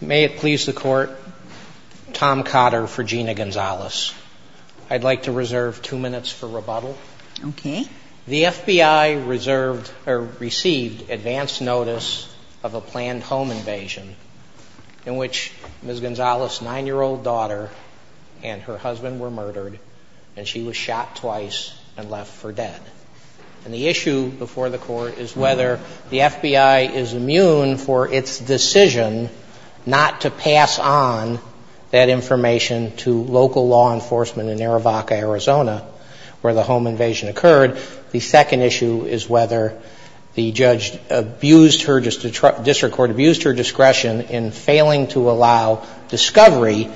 May it please the Court, Tom Cotter for Gina Gonzalez. I'd like to reserve two minutes for rebuttal. Okay. The FBI received advance notice of a planned home invasion in which Ms. Gonzalez's 9-year-old daughter and her husband were murdered and she was shot twice and left for dead. And the issue before the Court is whether the FBI is immune for its decision not to pass on that information to local law enforcement in Arivaca, Arizona, where the home invasion occurred. The second issue is whether the judge abused her district court, abused her discretion in failing to allow discovery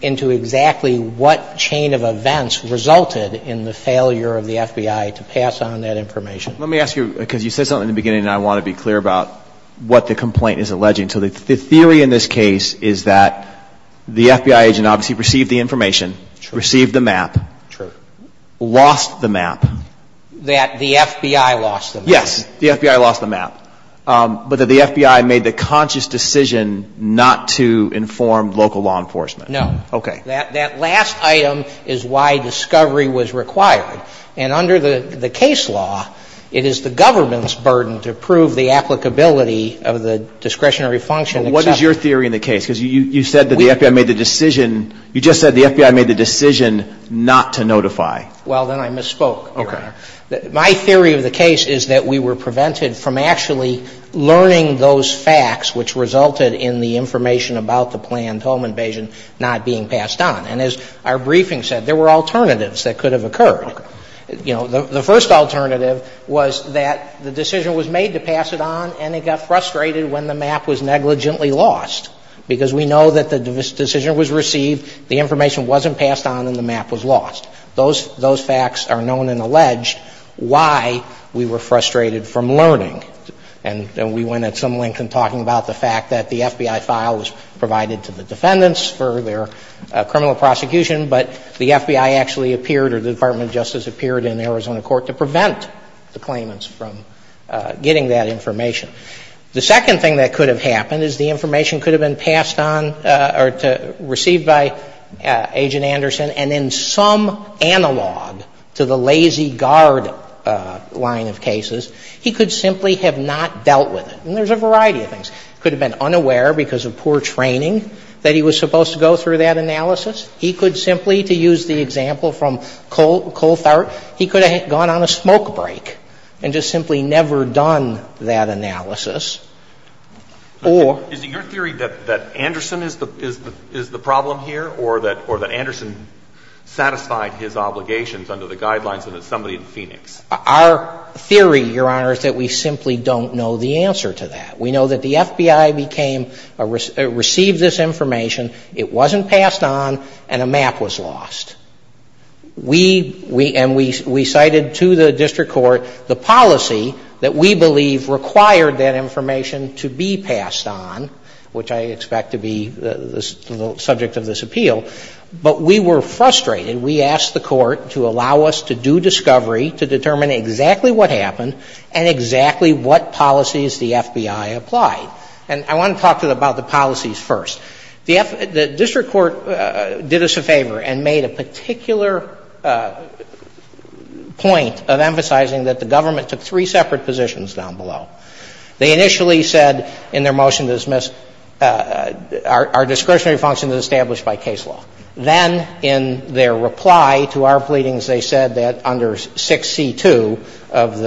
into exactly what chain of events resulted in the failure of the FBI to pass on that information. Let me ask you, because you said something in the beginning and I want to be clear about what the complaint is alleging. So the theory in this case is that the FBI agent obviously received the information, received the map, lost the map. That the FBI lost the map. Yes. The FBI lost the map. But that the FBI made the conscious decision not to inform local law enforcement. No. Okay. That last item is why discovery was required. And under the case law, it is the government's burden to prove the applicability of the discretionary function. What is your theory in the case? Because you said that the FBI made the decision, you just said the FBI made the decision not to notify. Well, then I misspoke, Your Honor. Okay. My theory of the case is that we were prevented from actually learning those facts which resulted in the information about the planned home invasion not being passed on. And as our briefing said, there were alternatives that could have occurred. Okay. You know, the first alternative was that the decision was made to pass it on and it got frustrated when the map was negligently lost. Because we know that the decision was received, the information wasn't passed on, and the map was lost. Those facts are known and alleged why we were frustrated from learning. And we went at some length in talking about the fact that the FBI file was provided to the defendants for their criminal prosecution, but the FBI actually appeared or the Department of Justice appeared in Arizona court to prevent the claimants from getting that information. The second thing that could have happened is the information could have been passed on or received by Agent Anderson and in some analog to the Lazy Guard line of cases, he could simply have not dealt with it. And there's a variety of things. He could have been unaware because of poor training that he was supposed to go through that analysis. He could simply, to use the example from Colthart, he could have gone on a smoke break and just simply never done that analysis. Or — Is it your theory that Anderson is the problem here or that Anderson satisfied his obligations under the guidelines of somebody in Phoenix? Our theory, Your Honor, is that we simply don't know the answer to that. We know that the FBI became — received this information, it wasn't passed on, and a map was lost. We — and we cited to the district court the policy that we believe required that information to be passed on, which I expect to be the subject of this appeal. But we were frustrated. We asked the court to allow us to do discovery to determine exactly what happened and exactly what policies the FBI applied. And I want to talk about the policies first. The district court did us a favor and made a particular point of emphasizing that the government took three separate positions down below. They initially said in their motion to dismiss, our discretionary function is established by case law. Then in their reply to our pleadings, they said that under 6C2 of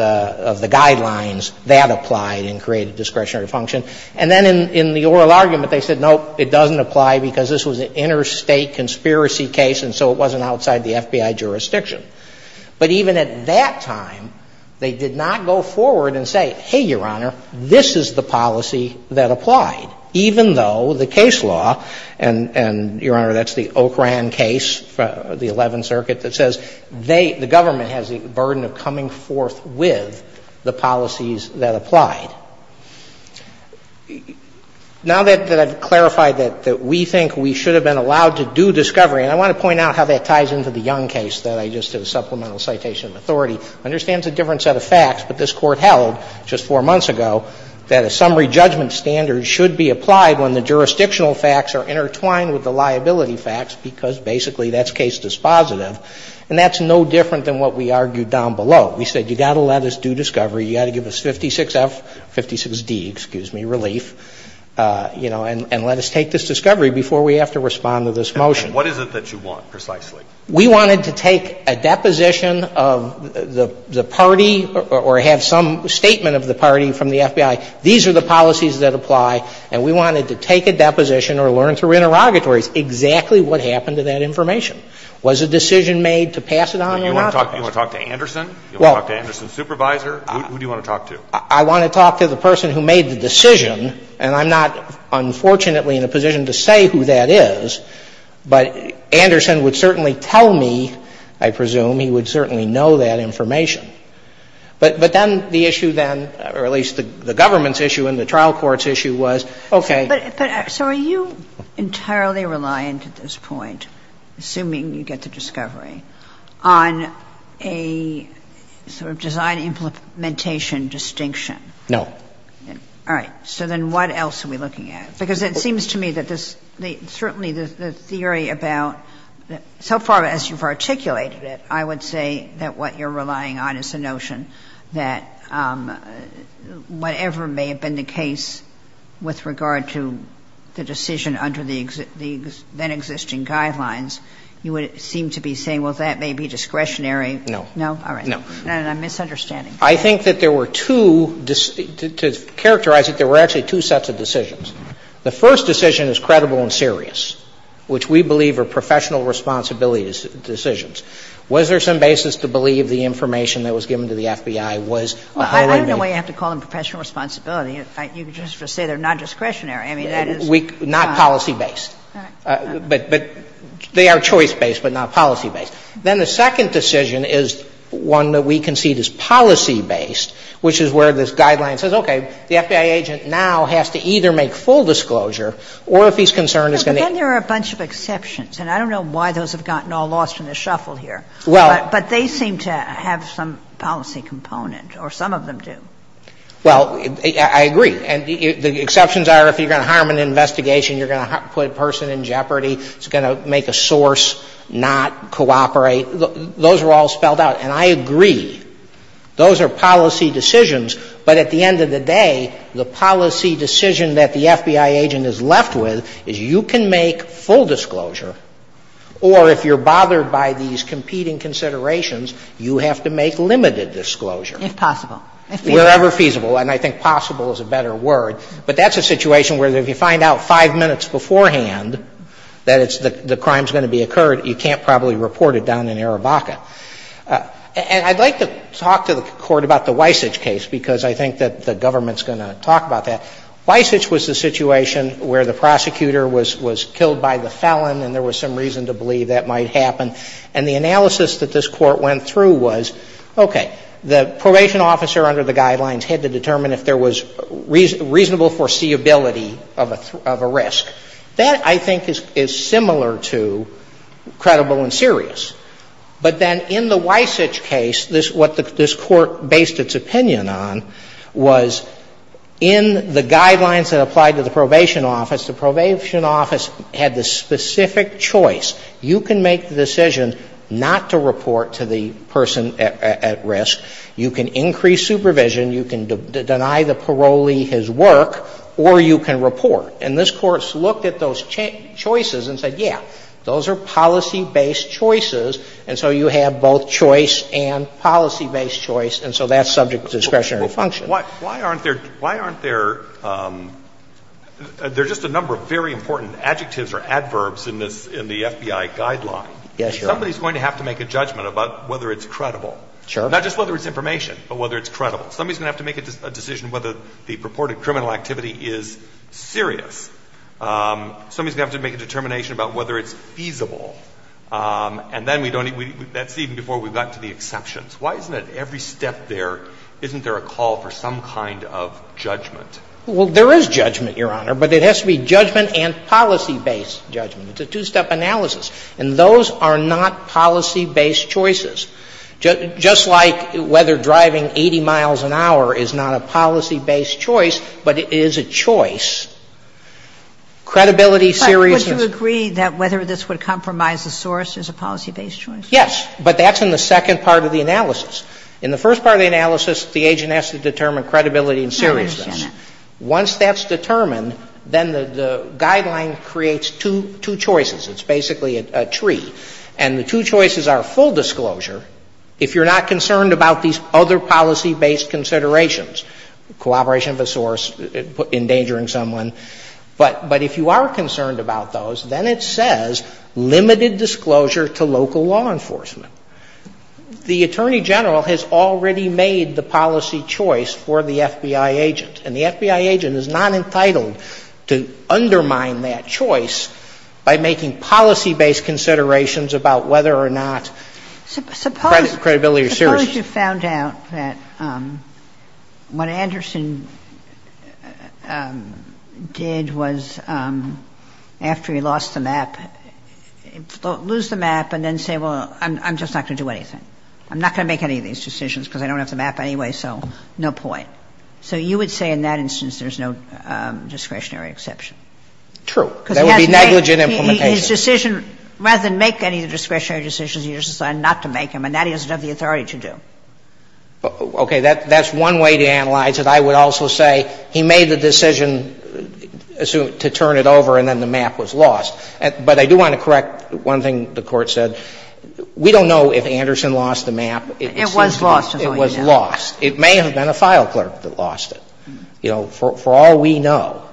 the guidelines, that applied and created discretionary function. And then in the oral argument, they said, nope, it doesn't apply because this was an interstate conspiracy case, and so it wasn't outside the FBI jurisdiction. But even at that time, they did not go forward and say, hey, Your Honor, this is the policy that applied, even though the case law — and, Your Honor, that's the Ocran case, the Eleventh Circuit, that says they — the government has the burden of coming forth with the policies that applied. Now that I've clarified that we think we should have been allowed to do discovery, and I want to point out how that ties into the Young case that I just did a supplemental citation of authority, understands a different set of facts. But this Court held just four months ago that a summary judgment standard should be applied when the jurisdictional facts are intertwined with the liability facts, because basically that's case dispositive. And that's no different than what we argued down below. We said you've got to let us do discovery. You've got to give us 56F — 56D, excuse me, relief, you know, and let us take this discovery before we have to respond to this motion. And what is it that you want, precisely? We wanted to take a deposition of the party or have some statement of the party from the FBI. These are the policies that apply. And we wanted to take a deposition or learn through interrogatories exactly what happened to that information. And that's what you're supposed to do when we don't have a conclusion. You want to talk to Anderson? You want to talk to Anderson's supervisor? Who do you want to talk to? I want to talk to the person who made the decision, and I'm not, unfortunately, in a position to say who that is. But Anderson would certainly tell me, I presume, he would certainly know that information. But then the issue then, or at least the government's issue and the trial court's issue was, okay. But, sir, are you entirely reliant at this point, assuming you get the discovery, on a sort of design implementation distinction? No. All right. So then what else are we looking at? Because it seems to me that this, certainly the theory about, so far as you've articulated it, I would say that what you're relying on is the notion that whatever may have been the case with regard to the decision under the then-existing guidelines, you would seem to be saying, well, that may be discretionary. No. No? All right. No. And I'm misunderstanding. I think that there were two, to characterize it, there were actually two sets of decisions. The first decision is credible and serious, which we believe are professional responsibility decisions. Was there some basis to believe the information that was given to the FBI was a wholly based? Well, I don't know why you have to call them professional responsibility. In fact, you could just say they're non-discretionary. I mean, that is. Not policy-based. But they are choice-based, but not policy-based. Then the second decision is one that we concede is policy-based, which is where this guideline says, okay, the FBI agent now has to either make full disclosure or, if he's concerned, is going to — But then there are a bunch of exceptions, and I don't know why those have gotten all lost in the shuffle here. Well — But they seem to have some policy component, or some of them do. Well, I agree. And the exceptions are, if you're going to harm an investigation, you're going to put a person in jeopardy. It's going to make a source not cooperate. Those are all spelled out. And I agree. Those are policy decisions. But at the end of the day, the policy decision that the FBI agent is left with is you can make full disclosure, or if you're bothered by these competing considerations, you have to make limited disclosure. If possible. If feasible. Wherever feasible. And I think possible is a better word. But that's a situation where if you find out five minutes beforehand that the crime is going to be occurred, you can't probably report it down in Arabaca. And I'd like to talk to the Court about the Weissach case, because I think that the government is going to talk about that. Weissach was the situation where the prosecutor was killed by the felon, and there was some reason to believe that might happen. And the analysis that this Court went through was, okay, the probation officer under the guidelines had to determine if there was reasonable foreseeability of a risk. That, I think, is similar to credible and serious. But then in the Weissach case, what this Court based its opinion on was in the guidelines that applied to the probation office, the probation office had the specific choice. You can make the decision not to report to the person at risk. You can increase supervision. You can deny the parolee his work. Or you can report. And this Court looked at those choices and said, yeah, those are policy-based choices, and so you have both choice and policy-based choice, and so that's subject to discretionary function. Why aren't there — why aren't there — there are just a number of very important adjectives or adverbs in the FBI guideline. Yes, Your Honor. Somebody is going to have to make a judgment about whether it's credible. Not just whether it's information, but whether it's credible. Somebody is going to have to make a decision whether the purported criminal activity is serious. Somebody is going to have to make a determination about whether it's feasible. And then we don't — that's even before we've gotten to the exceptions. Why isn't it every step there, isn't there a call for some kind of judgment? Well, there is judgment, Your Honor, but it has to be judgment and policy-based judgment. It's a two-step analysis. And those are not policy-based choices. Just like whether driving 80 miles an hour is not a policy-based choice, but it is a choice, credibility, seriousness — But would you agree that whether this would compromise the source is a policy-based choice? Yes. But that's in the second part of the analysis. In the first part of the analysis, the agent has to determine credibility and seriousness. I understand that. Once that's determined, then the guideline creates two choices. It's basically a tree. And the two choices are full disclosure if you're not concerned about these other policy-based considerations — cooperation of a source, endangering someone. But if you are concerned about those, then it says limited disclosure to local law enforcement. The attorney general has already made the policy choice for the FBI agent. And the FBI agent is not entitled to undermine that choice by making policy-based considerations about whether or not credibility or seriousness. Suppose you found out that what Anderson did was, after he lost the map, lose the map and then say, well, I'm just not going to do anything. I'm not going to make any of these decisions because I don't have the map anyway, so no point. So you would say in that instance there's no discretionary exception? True. Because he has negligent implementation. But his decision, rather than make any of the discretionary decisions, he just decided not to make them. And that he doesn't have the authority to do. Okay. That's one way to analyze it. I would also say he made the decision to turn it over and then the map was lost. But I do want to correct one thing the Court said. We don't know if Anderson lost the map. It was lost, is all you know. It was lost. It may have been a file clerk that lost it, you know, for all we know.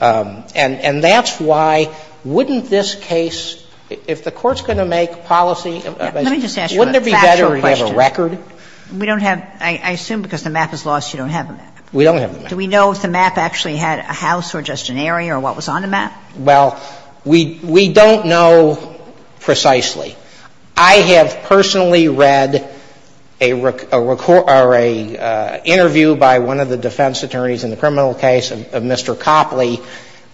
And that's why wouldn't this case, if the Court's going to make policy, wouldn't it be better to have a record? Let me just ask you a factual question. We don't have – I assume because the map is lost you don't have the map. We don't have the map. Do we know if the map actually had a house or just an area or what was on the map? Well, we don't know precisely. I have personally read a interview by one of the defense attorneys in the criminal case of Mr. Copley,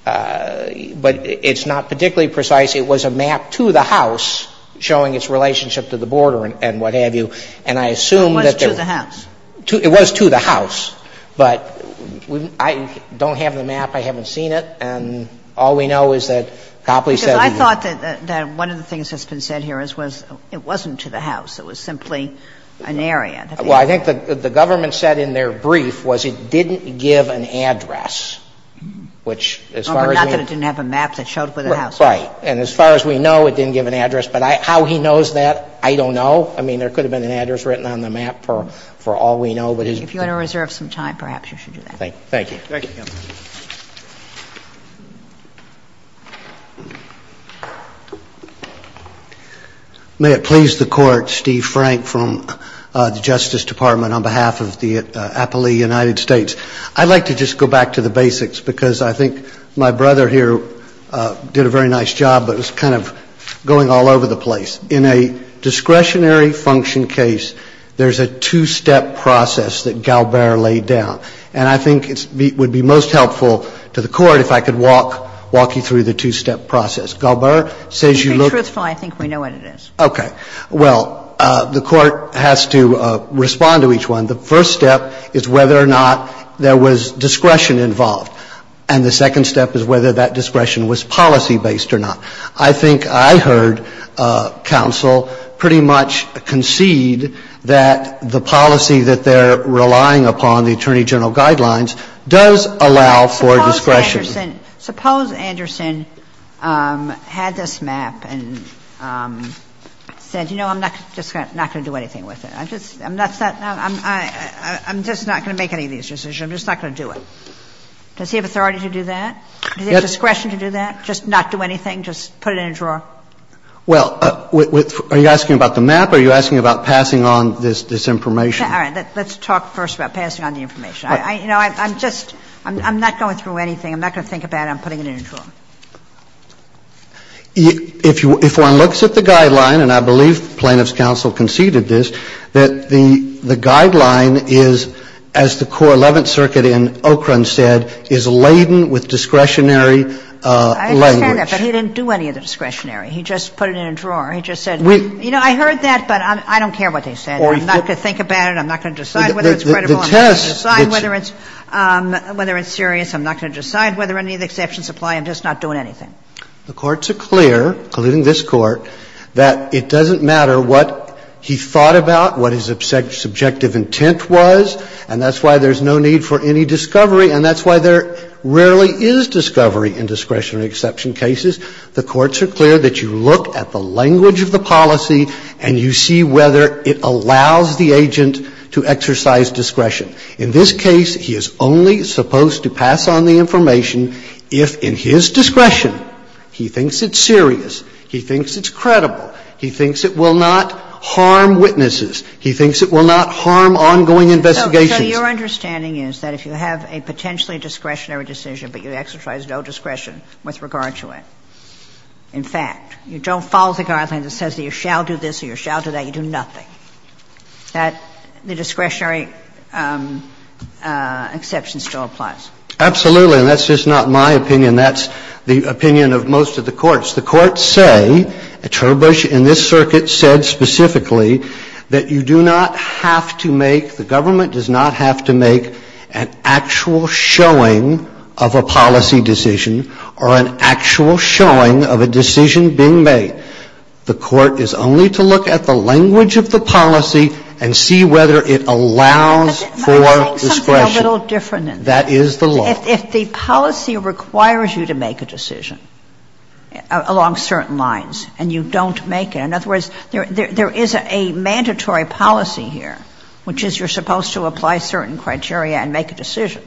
but it's not particularly precise. It was a map to the house showing its relationship to the border and what have you. And I assume that there – It was to the house. It was to the house. But I don't have the map. I haven't seen it. And all we know is that Copley said – Because I thought that one of the things that's been said here is it wasn't to the house. It was simply an area. Well, I think that the government said in their brief was it didn't give an address, which as far as we know – Not that it didn't have a map that showed where the house was. Right. And as far as we know, it didn't give an address. But how he knows that, I don't know. I mean, there could have been an address written on the map for all we know. But his – If you want to reserve some time, perhaps you should do that. Thank you. Thank you. Thank you. May it please the Court. Steve Frank from the Justice Department on behalf of the Appalachian United States. I'd like to just go back to the basics because I think my brother here did a very nice job, but it's kind of going all over the place. In a discretionary function case, there's a two-step process that Galbert laid down. And I think it would be most helpful to the Court if I could walk you through the two-step process. Galbert says you look – To be truthful, I think we know what it is. Okay. Well, the Court has to respond to each one. The first step is whether or not there was discretion involved. And the second step is whether that discretion was policy-based or not. I think I heard counsel pretty much concede that the policy that they're relying upon, the attorney general guidelines, does allow for discretion. Suppose Anderson had this map and said, you know, I'm not going to do anything with it. I'm just not going to make any of these decisions. I'm just not going to do it. Does he have authority to do that? Does he have discretion to do that, just not do anything, just put it in a drawer? Well, are you asking about the map or are you asking about passing on this information? All right. Let's talk first about passing on the information. You know, I'm just – I'm not going through anything. I'm not going to think about it. I'm putting it in a drawer. If one looks at the guideline, and I believe plaintiff's counsel conceded this, that the guideline is, as the core Eleventh Circuit in Ocran said, is laden with discretionary language. I understand that, but he didn't do any of the discretionary. He just put it in a drawer. He just said, you know, I heard that, but I don't care what they said. I'm not going to think about it. I'm not going to decide whether it's credible. I'm not going to decide whether it's serious. I'm not going to decide whether any of the exceptions apply. I'm just not doing anything. The courts are clear, including this Court, that it doesn't matter what he thought about, what his subjective intent was, and that's why there's no need for any discovery, and that's why there rarely is discovery in discretionary exception cases. The courts are clear that you look at the language of the policy and you see whether it allows the agent to exercise discretion. In this case, he is only supposed to pass on the information if, in his discretion, he thinks it's serious, he thinks it's credible, he thinks it will not harm witnesses, he thinks it will not harm ongoing investigations. So your understanding is that if you have a potentially discretionary decision but you exercise no discretion with regard to it, in fact, you don't follow the guideline that says that you shall do this or you shall do that, you do nothing. That the discretionary exception still applies. Absolutely. And that's just not my opinion. That's the opinion of most of the courts. The courts say, at Herbush and this circuit said specifically, that you do not have to make, the government does not have to make an actual showing of a policy decision or an actual showing of a decision being made. The Court is only to look at the language of the policy and see whether it allows for discretion. But I'm saying something a little different than that. That is the law. If the policy requires you to make a decision along certain lines and you don't make it, in other words, there is a mandatory policy here, which is you're supposed to apply certain criteria and make a decision.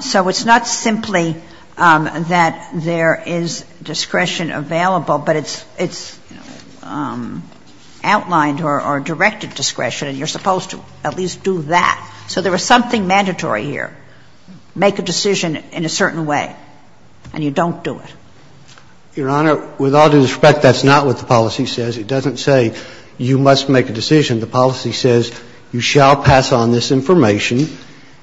So it's not simply that there is discretion available, but it's outlined or directed discretion and you're supposed to at least do that. So there is something mandatory here. Make a decision in a certain way and you don't do it. Your Honor, with all due respect, that's not what the policy says. It doesn't say you must make a decision. The policy says you shall pass on this information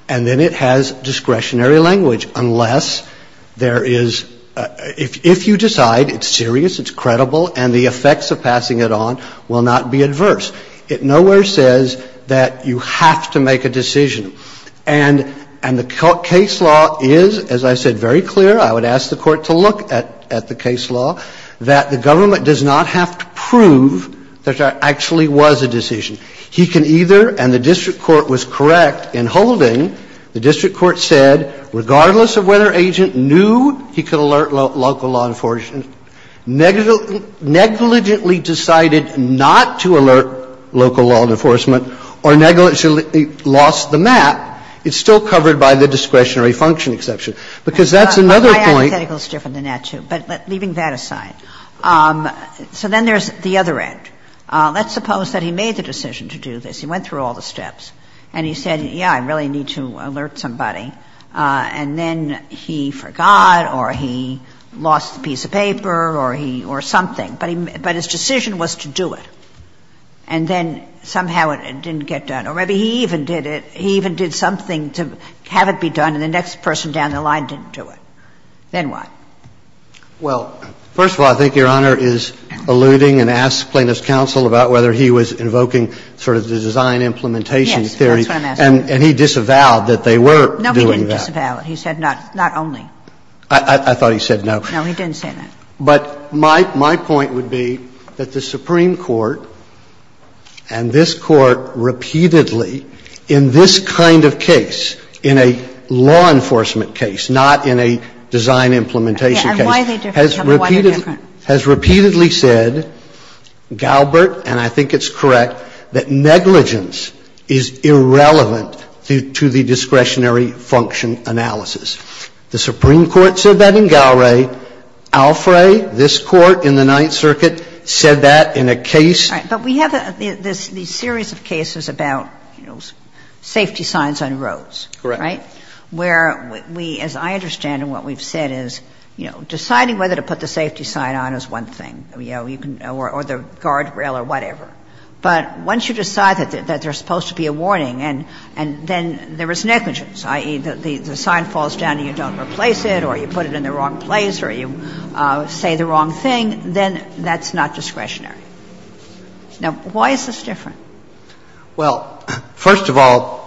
and then it has discretionary language unless there is, if you decide it's serious, it's credible, and the effects of passing it on will not be adverse. It nowhere says that you have to make a decision. And the case law is, as I said, very clear. I would ask the Court to look at the case law, that the government does not have to prove that there actually was a decision. He can either, and the district court was correct in holding, the district court said, regardless of whether agent knew he could alert local law enforcement, negligently decided not to alert local law enforcement, or negligently lost the map, it's still covered by the discretionary function exception, because that's another point. But I think that's a little different than that, too. But leaving that aside. So then there's the other end. Let's suppose that he made the decision to do this. He went through all the steps. And he said, yeah, I really need to alert somebody. And then he forgot or he lost a piece of paper or he or something. But his decision was to do it. And then somehow it didn't get done. Or maybe he even did it, he even did something to have it be done and the next person down the line didn't do it. Then what? Well, first of all, I think Your Honor is alluding and asks plaintiff's counsel about whether he was invoking sort of the design implementation theory. Yes, that's what I'm asking. And he disavowed that they were doing that. No, he didn't disavow it. He said not only. I thought he said no. No, he didn't say that. But my point would be that the Supreme Court and this Court repeatedly in this kind of case, in a law enforcement case, not in a design implementation case, has repeatedly said, Galbraith, and I think it's correct, that negligence is irrelevant to the discretionary function analysis. The Supreme Court said that in Galbraith. Alfrey, this Court in the Ninth Circuit, said that in a case. But we have these series of cases about, you know, safety signs on roads. Correct. Right? Where we, as I understand and what we've said is, you know, deciding whether to put the safety sign on is one thing, you know, or the guardrail or whatever. But once you decide that there's supposed to be a warning and then there is negligence, i.e., the sign falls down and you don't replace it or you put it in the wrong place or you say the wrong thing, then that's not discretionary. Now, why is this different? Well, first of all,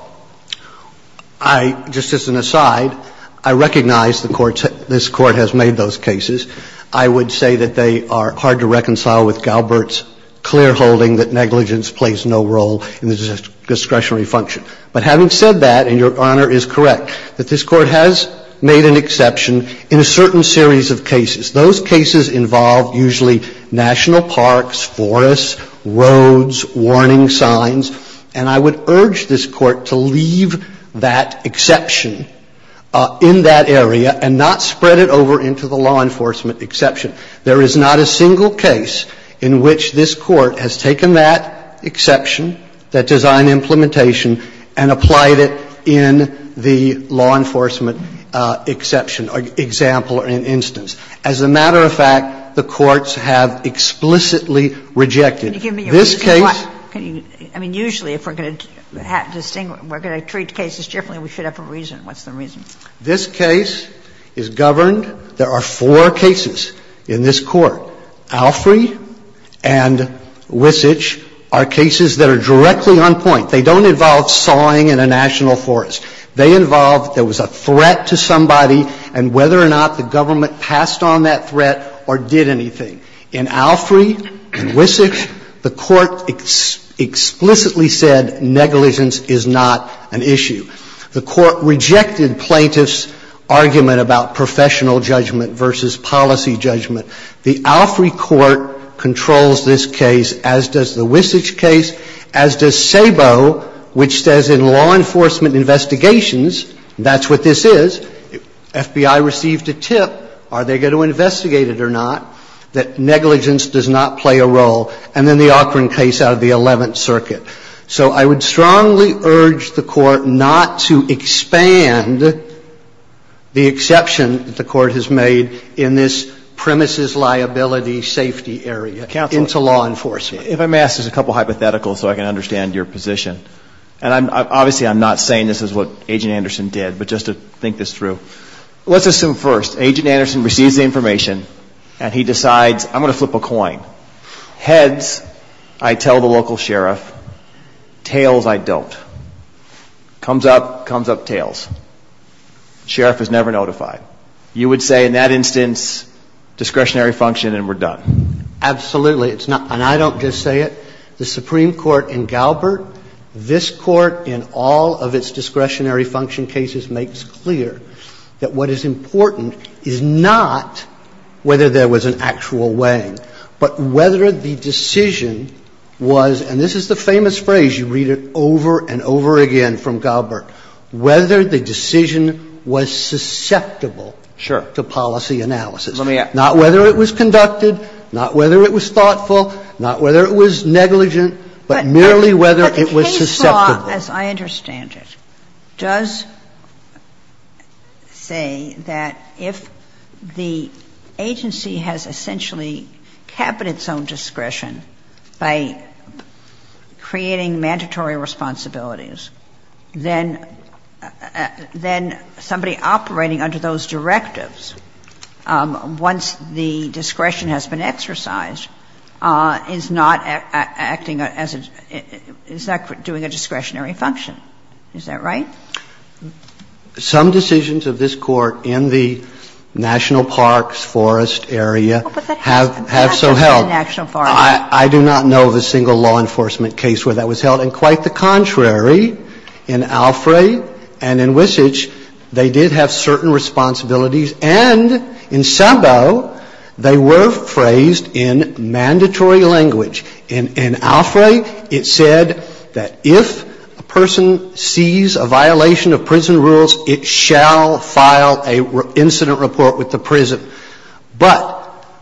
I, just as an aside, I recognize the Court's, this Court has made those cases. I would say that they are hard to reconcile with Galbraith's clear holding that negligence plays no role in the discretionary function. But having said that, and Your Honor is correct, that this Court has made an exception in a certain series of cases. Those cases involve usually national parks, forests, roads, warning signs. And I would urge this Court to leave that exception in that area and not spread it over into the law enforcement exception. There is not a single case in which this Court has taken that exception, that design and implementation, and applied it in the law enforcement exception or example or instance. As a matter of fact, the courts have explicitly rejected. This case Can you give me your reasoning? I mean, usually if we're going to treat cases differently, we should have a reason. What's the reason? This case is governed. There are four cases in this Court. Alfrey and Wissich are cases that are directly on point. They don't involve sawing in a national forest. They involve there was a threat to somebody and whether or not the government passed on that threat or did anything. In Alfrey and Wissich, the Court explicitly said negligence is not an issue. The Court rejected plaintiffs' argument about professional judgment versus policy judgment. The Alfrey Court controls this case as does the Wissich case, as does SABO, which says in law enforcement investigations, that's what this is. FBI received a tip. Are they going to investigate it or not? That negligence does not play a role. And then the Ocran case out of the Eleventh Circuit. So I would strongly urge the Court not to expand the exception that the Court has made in this premises liability safety area into law enforcement. If I may ask just a couple hypotheticals so I can understand your position. And obviously I'm not saying this is what Agent Anderson did, but just to think this through. Let's assume first Agent Anderson receives the information and he decides I'm going to flip a coin. Heads, I tell the local sheriff. Tails, I don't. Comes up, comes up tails. Sheriff is never notified. You would say in that instance discretionary function and we're done. Absolutely. And I don't just say it. The Supreme Court in Galbert, this Court in all of its discretionary function cases makes clear that what is important is not whether there was an actual weighing, but whether the decision was, and this is the famous phrase, you read it over and over again from Galbert. Whether the decision was susceptible to policy analysis. Not whether it was conducted, not whether it was thoughtful, not whether it was negligent, but merely whether it was susceptible. But the case law, as I understand it, does say that if the agency has essentially exercised the cabinet's own discretion by creating mandatory responsibilities, then somebody operating under those directives, once the discretion has been exercised, is not acting as a, is not doing a discretionary function. Is that right? Some decisions of this Court in the national parks, forest area have so held. It's not just the national forest. I do not know of a single law enforcement case where that was held. And quite the contrary. In Alfrey and in Wissage, they did have certain responsibilities. And in Sabo, they were phrased in mandatory language. In Alfrey, it said that if a person sees a violation of prison rules, it shall file an incident report with the prison. But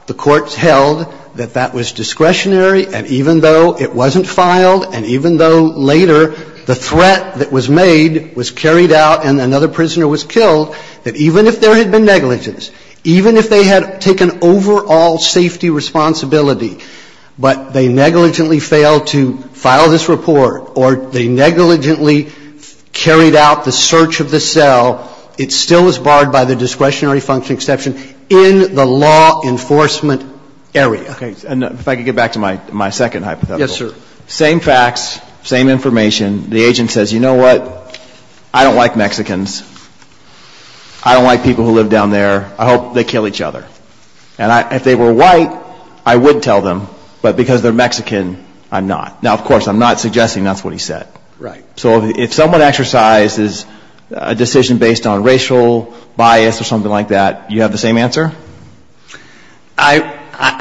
the courts held that that was discretionary and even though it wasn't filed and even though later the threat that was made was carried out and another prisoner was killed, that even if there had been negligence, even if they had taken overall safety responsibility, but they negligently failed to file this report or they negligently carried out the search of the cell, it still was barred by the discretionary function exception in the law enforcement area. Okay. And if I could get back to my second hypothetical. Yes, sir. Same facts, same information. The agent says, you know what, I don't like Mexicans. I don't like people who live down there. I hope they kill each other. And if they were white, I would tell them. But because they're Mexican, I'm not. Now, of course, I'm not suggesting that's what he said. Right. So if someone exercises a decision based on racial bias or something like that, you have the same answer?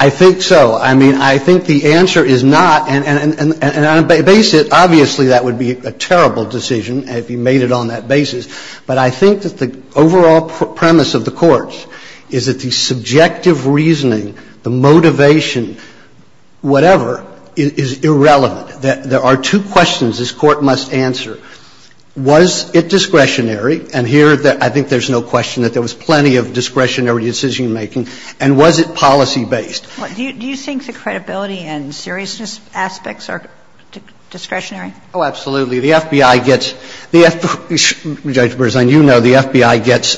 I think so. I mean, I think the answer is not, and on a basis, obviously that would be a terrible decision if he made it on that basis. But I think that the overall premise of the courts is that the subjective reasoning, the motivation, whatever, is irrelevant. There are two questions this Court must answer. Was it discretionary? And here, I think there's no question that there was plenty of discretionary decision-making. And was it policy-based? Do you think the credibility and seriousness aspects are discretionary? Oh, absolutely. The FBI gets the FBI gets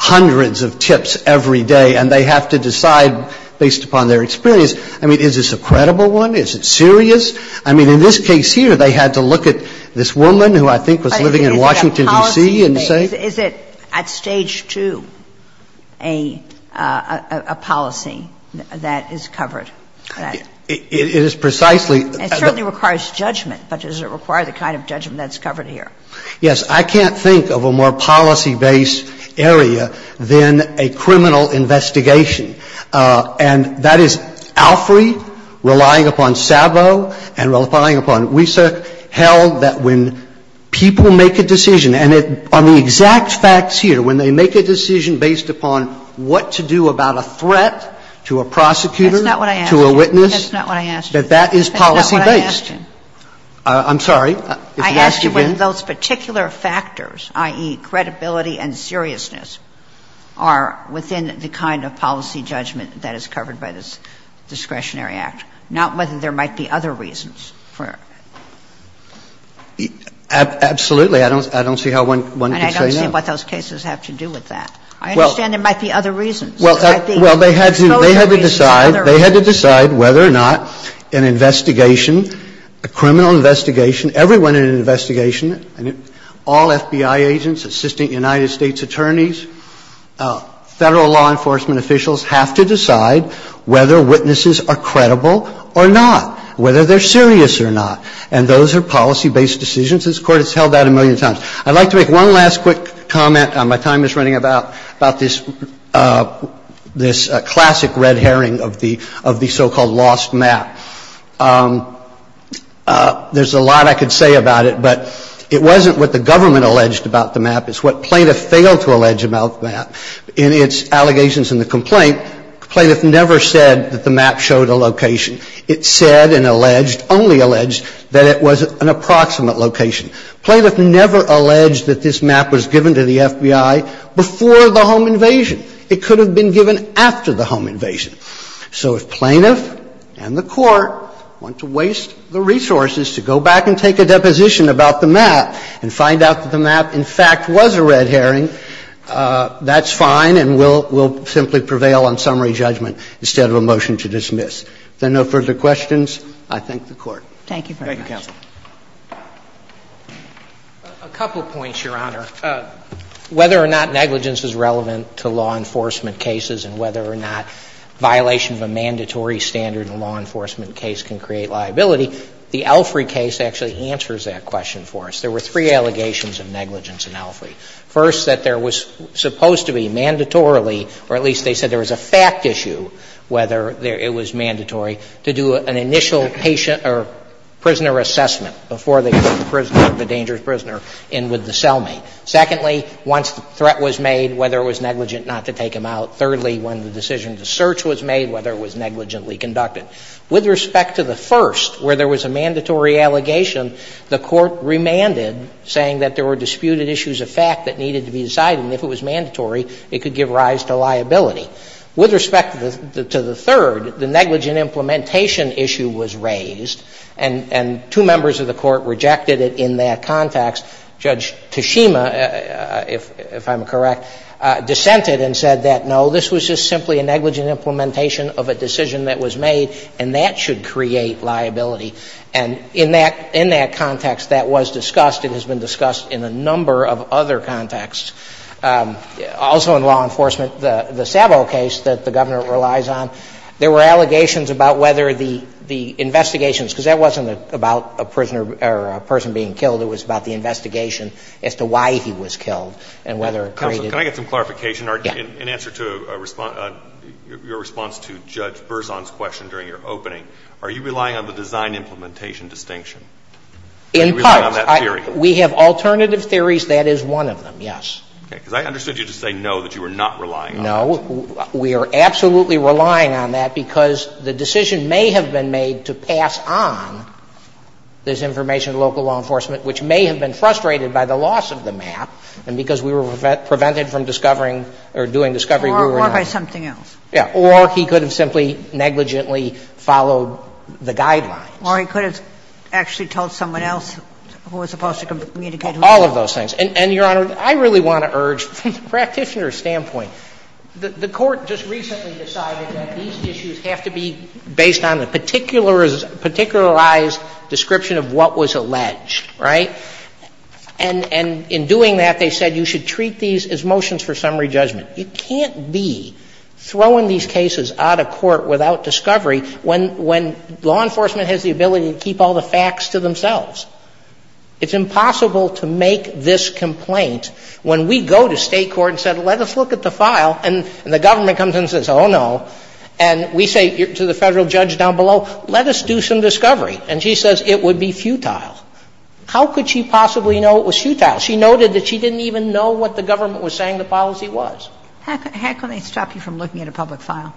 hundreds of tips every day, and they have to decide based upon their experience. I mean, is this a credible one? Is it serious? I mean, in this case here, they had to look at this woman who I think was living in Washington, D.C. and say? Is it at stage two a policy that is covered? It is precisely. It certainly requires judgment. But does it require the kind of judgment that's covered here? Yes. I can't think of a more policy-based area than a criminal investigation. And that is Alfrey relying upon Sabo and relying upon Wieser held that when people make a decision, and on the exact facts here, when they make a decision based upon their experience, that that is policy-based. That's not what I asked you. That's not what I asked you. I'm sorry. I asked you whether those particular factors, i.e., credibility and seriousness, are within the kind of policy judgment that is covered by this discretionary act, not whether there might be other reasons. Absolutely. I don't see how one could say no. And I don't see what those cases have to do with that. I understand there might be other reasons. Well, they had to decide. They had to decide whether or not an investigation, a criminal investigation, everyone in an investigation, all FBI agents, assistant United States attorneys, Federal law enforcement officials have to decide whether witnesses are credible or not, whether they're serious or not. And those are policy-based decisions. This Court has held that a million times. I'd like to make one last quick comment. My time is running about this classic red herring of the so-called lost map. There's a lot I could say about it, but it wasn't what the government alleged about the map. It's what plaintiff failed to allege about the map. In its allegations in the complaint, plaintiff never said that the map showed a location. It said and alleged, only alleged, that it was an approximate location. Plaintiff never alleged that this map was given to the FBI before the home invasion. It could have been given after the home invasion. So if plaintiff and the Court want to waste the resources to go back and take a deposition about the map and find out that the map, in fact, was a red herring, that's fine and will simply prevail on summary judgment instead of a motion to dismiss. Thank you. Thank you very much. Thank you, counsel. A couple points, Your Honor. Whether or not negligence is relevant to law enforcement cases and whether or not violation of a mandatory standard in a law enforcement case can create liability, the Elfrey case actually answers that question for us. There were three allegations of negligence in Elfrey. First, that there was supposed to be mandatorily, or at least they said there was a fact issue, whether it was mandatory to do an initial patient or prisoner assessment before they put the dangerous prisoner in with the cellmate. Secondly, once the threat was made, whether it was negligent not to take him out. Thirdly, when the decision to search was made, whether it was negligently conducted. With respect to the first, where there was a mandatory allegation, the Court remanded saying that there were disputed issues of fact that needed to be decided, and if it was mandatory, it could give rise to liability. With respect to the third, the negligent implementation issue was raised, and two members of the Court rejected it in that context. Judge Tashima, if I'm correct, dissented and said that, no, this was just simply a negligent implementation of a decision that was made, and that should create liability. And in that context, that was discussed. It has been discussed in a number of other contexts. Also in law enforcement, the Sabo case that the Governor relies on, there were allegations about whether the investigations, because that wasn't about a prisoner or a person being killed. It was about the investigation as to why he was killed and whether it created liability. Alitoson, can I get some clarification? In answer to your response to Judge Berzon's question during your opening, are you relying on the design implementation distinction? Are you relying on that theory? In part. We have alternative theories. That is one of them, yes. Okay. Because I understood you to say no, that you were not relying on it. No. We are absolutely relying on that because the decision may have been made to pass on this information to local law enforcement, which may have been frustrated by the loss of the map and because we were prevented from discovering or doing discovery we were not. Or by something else. Yeah. Or he could have simply negligently followed the guidelines. Or he could have actually told someone else who was supposed to communicate all of those things. And, Your Honor, I really want to urge, from the practitioner's standpoint, the Court just recently decided that these issues have to be based on a particular ized description of what was alleged, right? And in doing that, they said you should treat these as motions for summary judgment. You can't be throwing these cases out of court without discovery when law enforcement has the ability to keep all the facts to themselves. It's impossible to make this complaint. When we go to state court and said let us look at the file and the government comes in and says, oh, no, and we say to the Federal judge down below, let us do some discovery. And she says it would be futile. How could she possibly know it was futile? She noted that she didn't even know what the government was saying the policy was. How can they stop you from looking at a public file?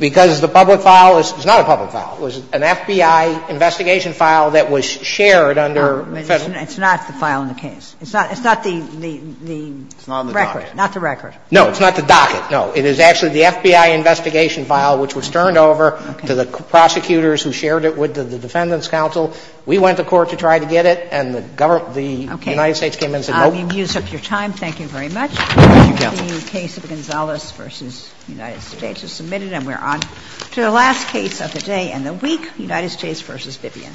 Because the public file is not a public file. It was an FBI investigation file that was shared under Federal. It's not the file in the case. It's not the record. It's not on the docket. Not the record. No, it's not the docket. No. It is actually the FBI investigation file which was turned over to the prosecutors who shared it with the Defendant's counsel. We went to court to try to get it, and the government, the United States came in and said, nope. I'm going to use up your time. Thank you very much. Thank you, Counsel. The case of Gonzalez v. United States is submitted, and we're on to the last case of the day and the week, United States v. Vivian.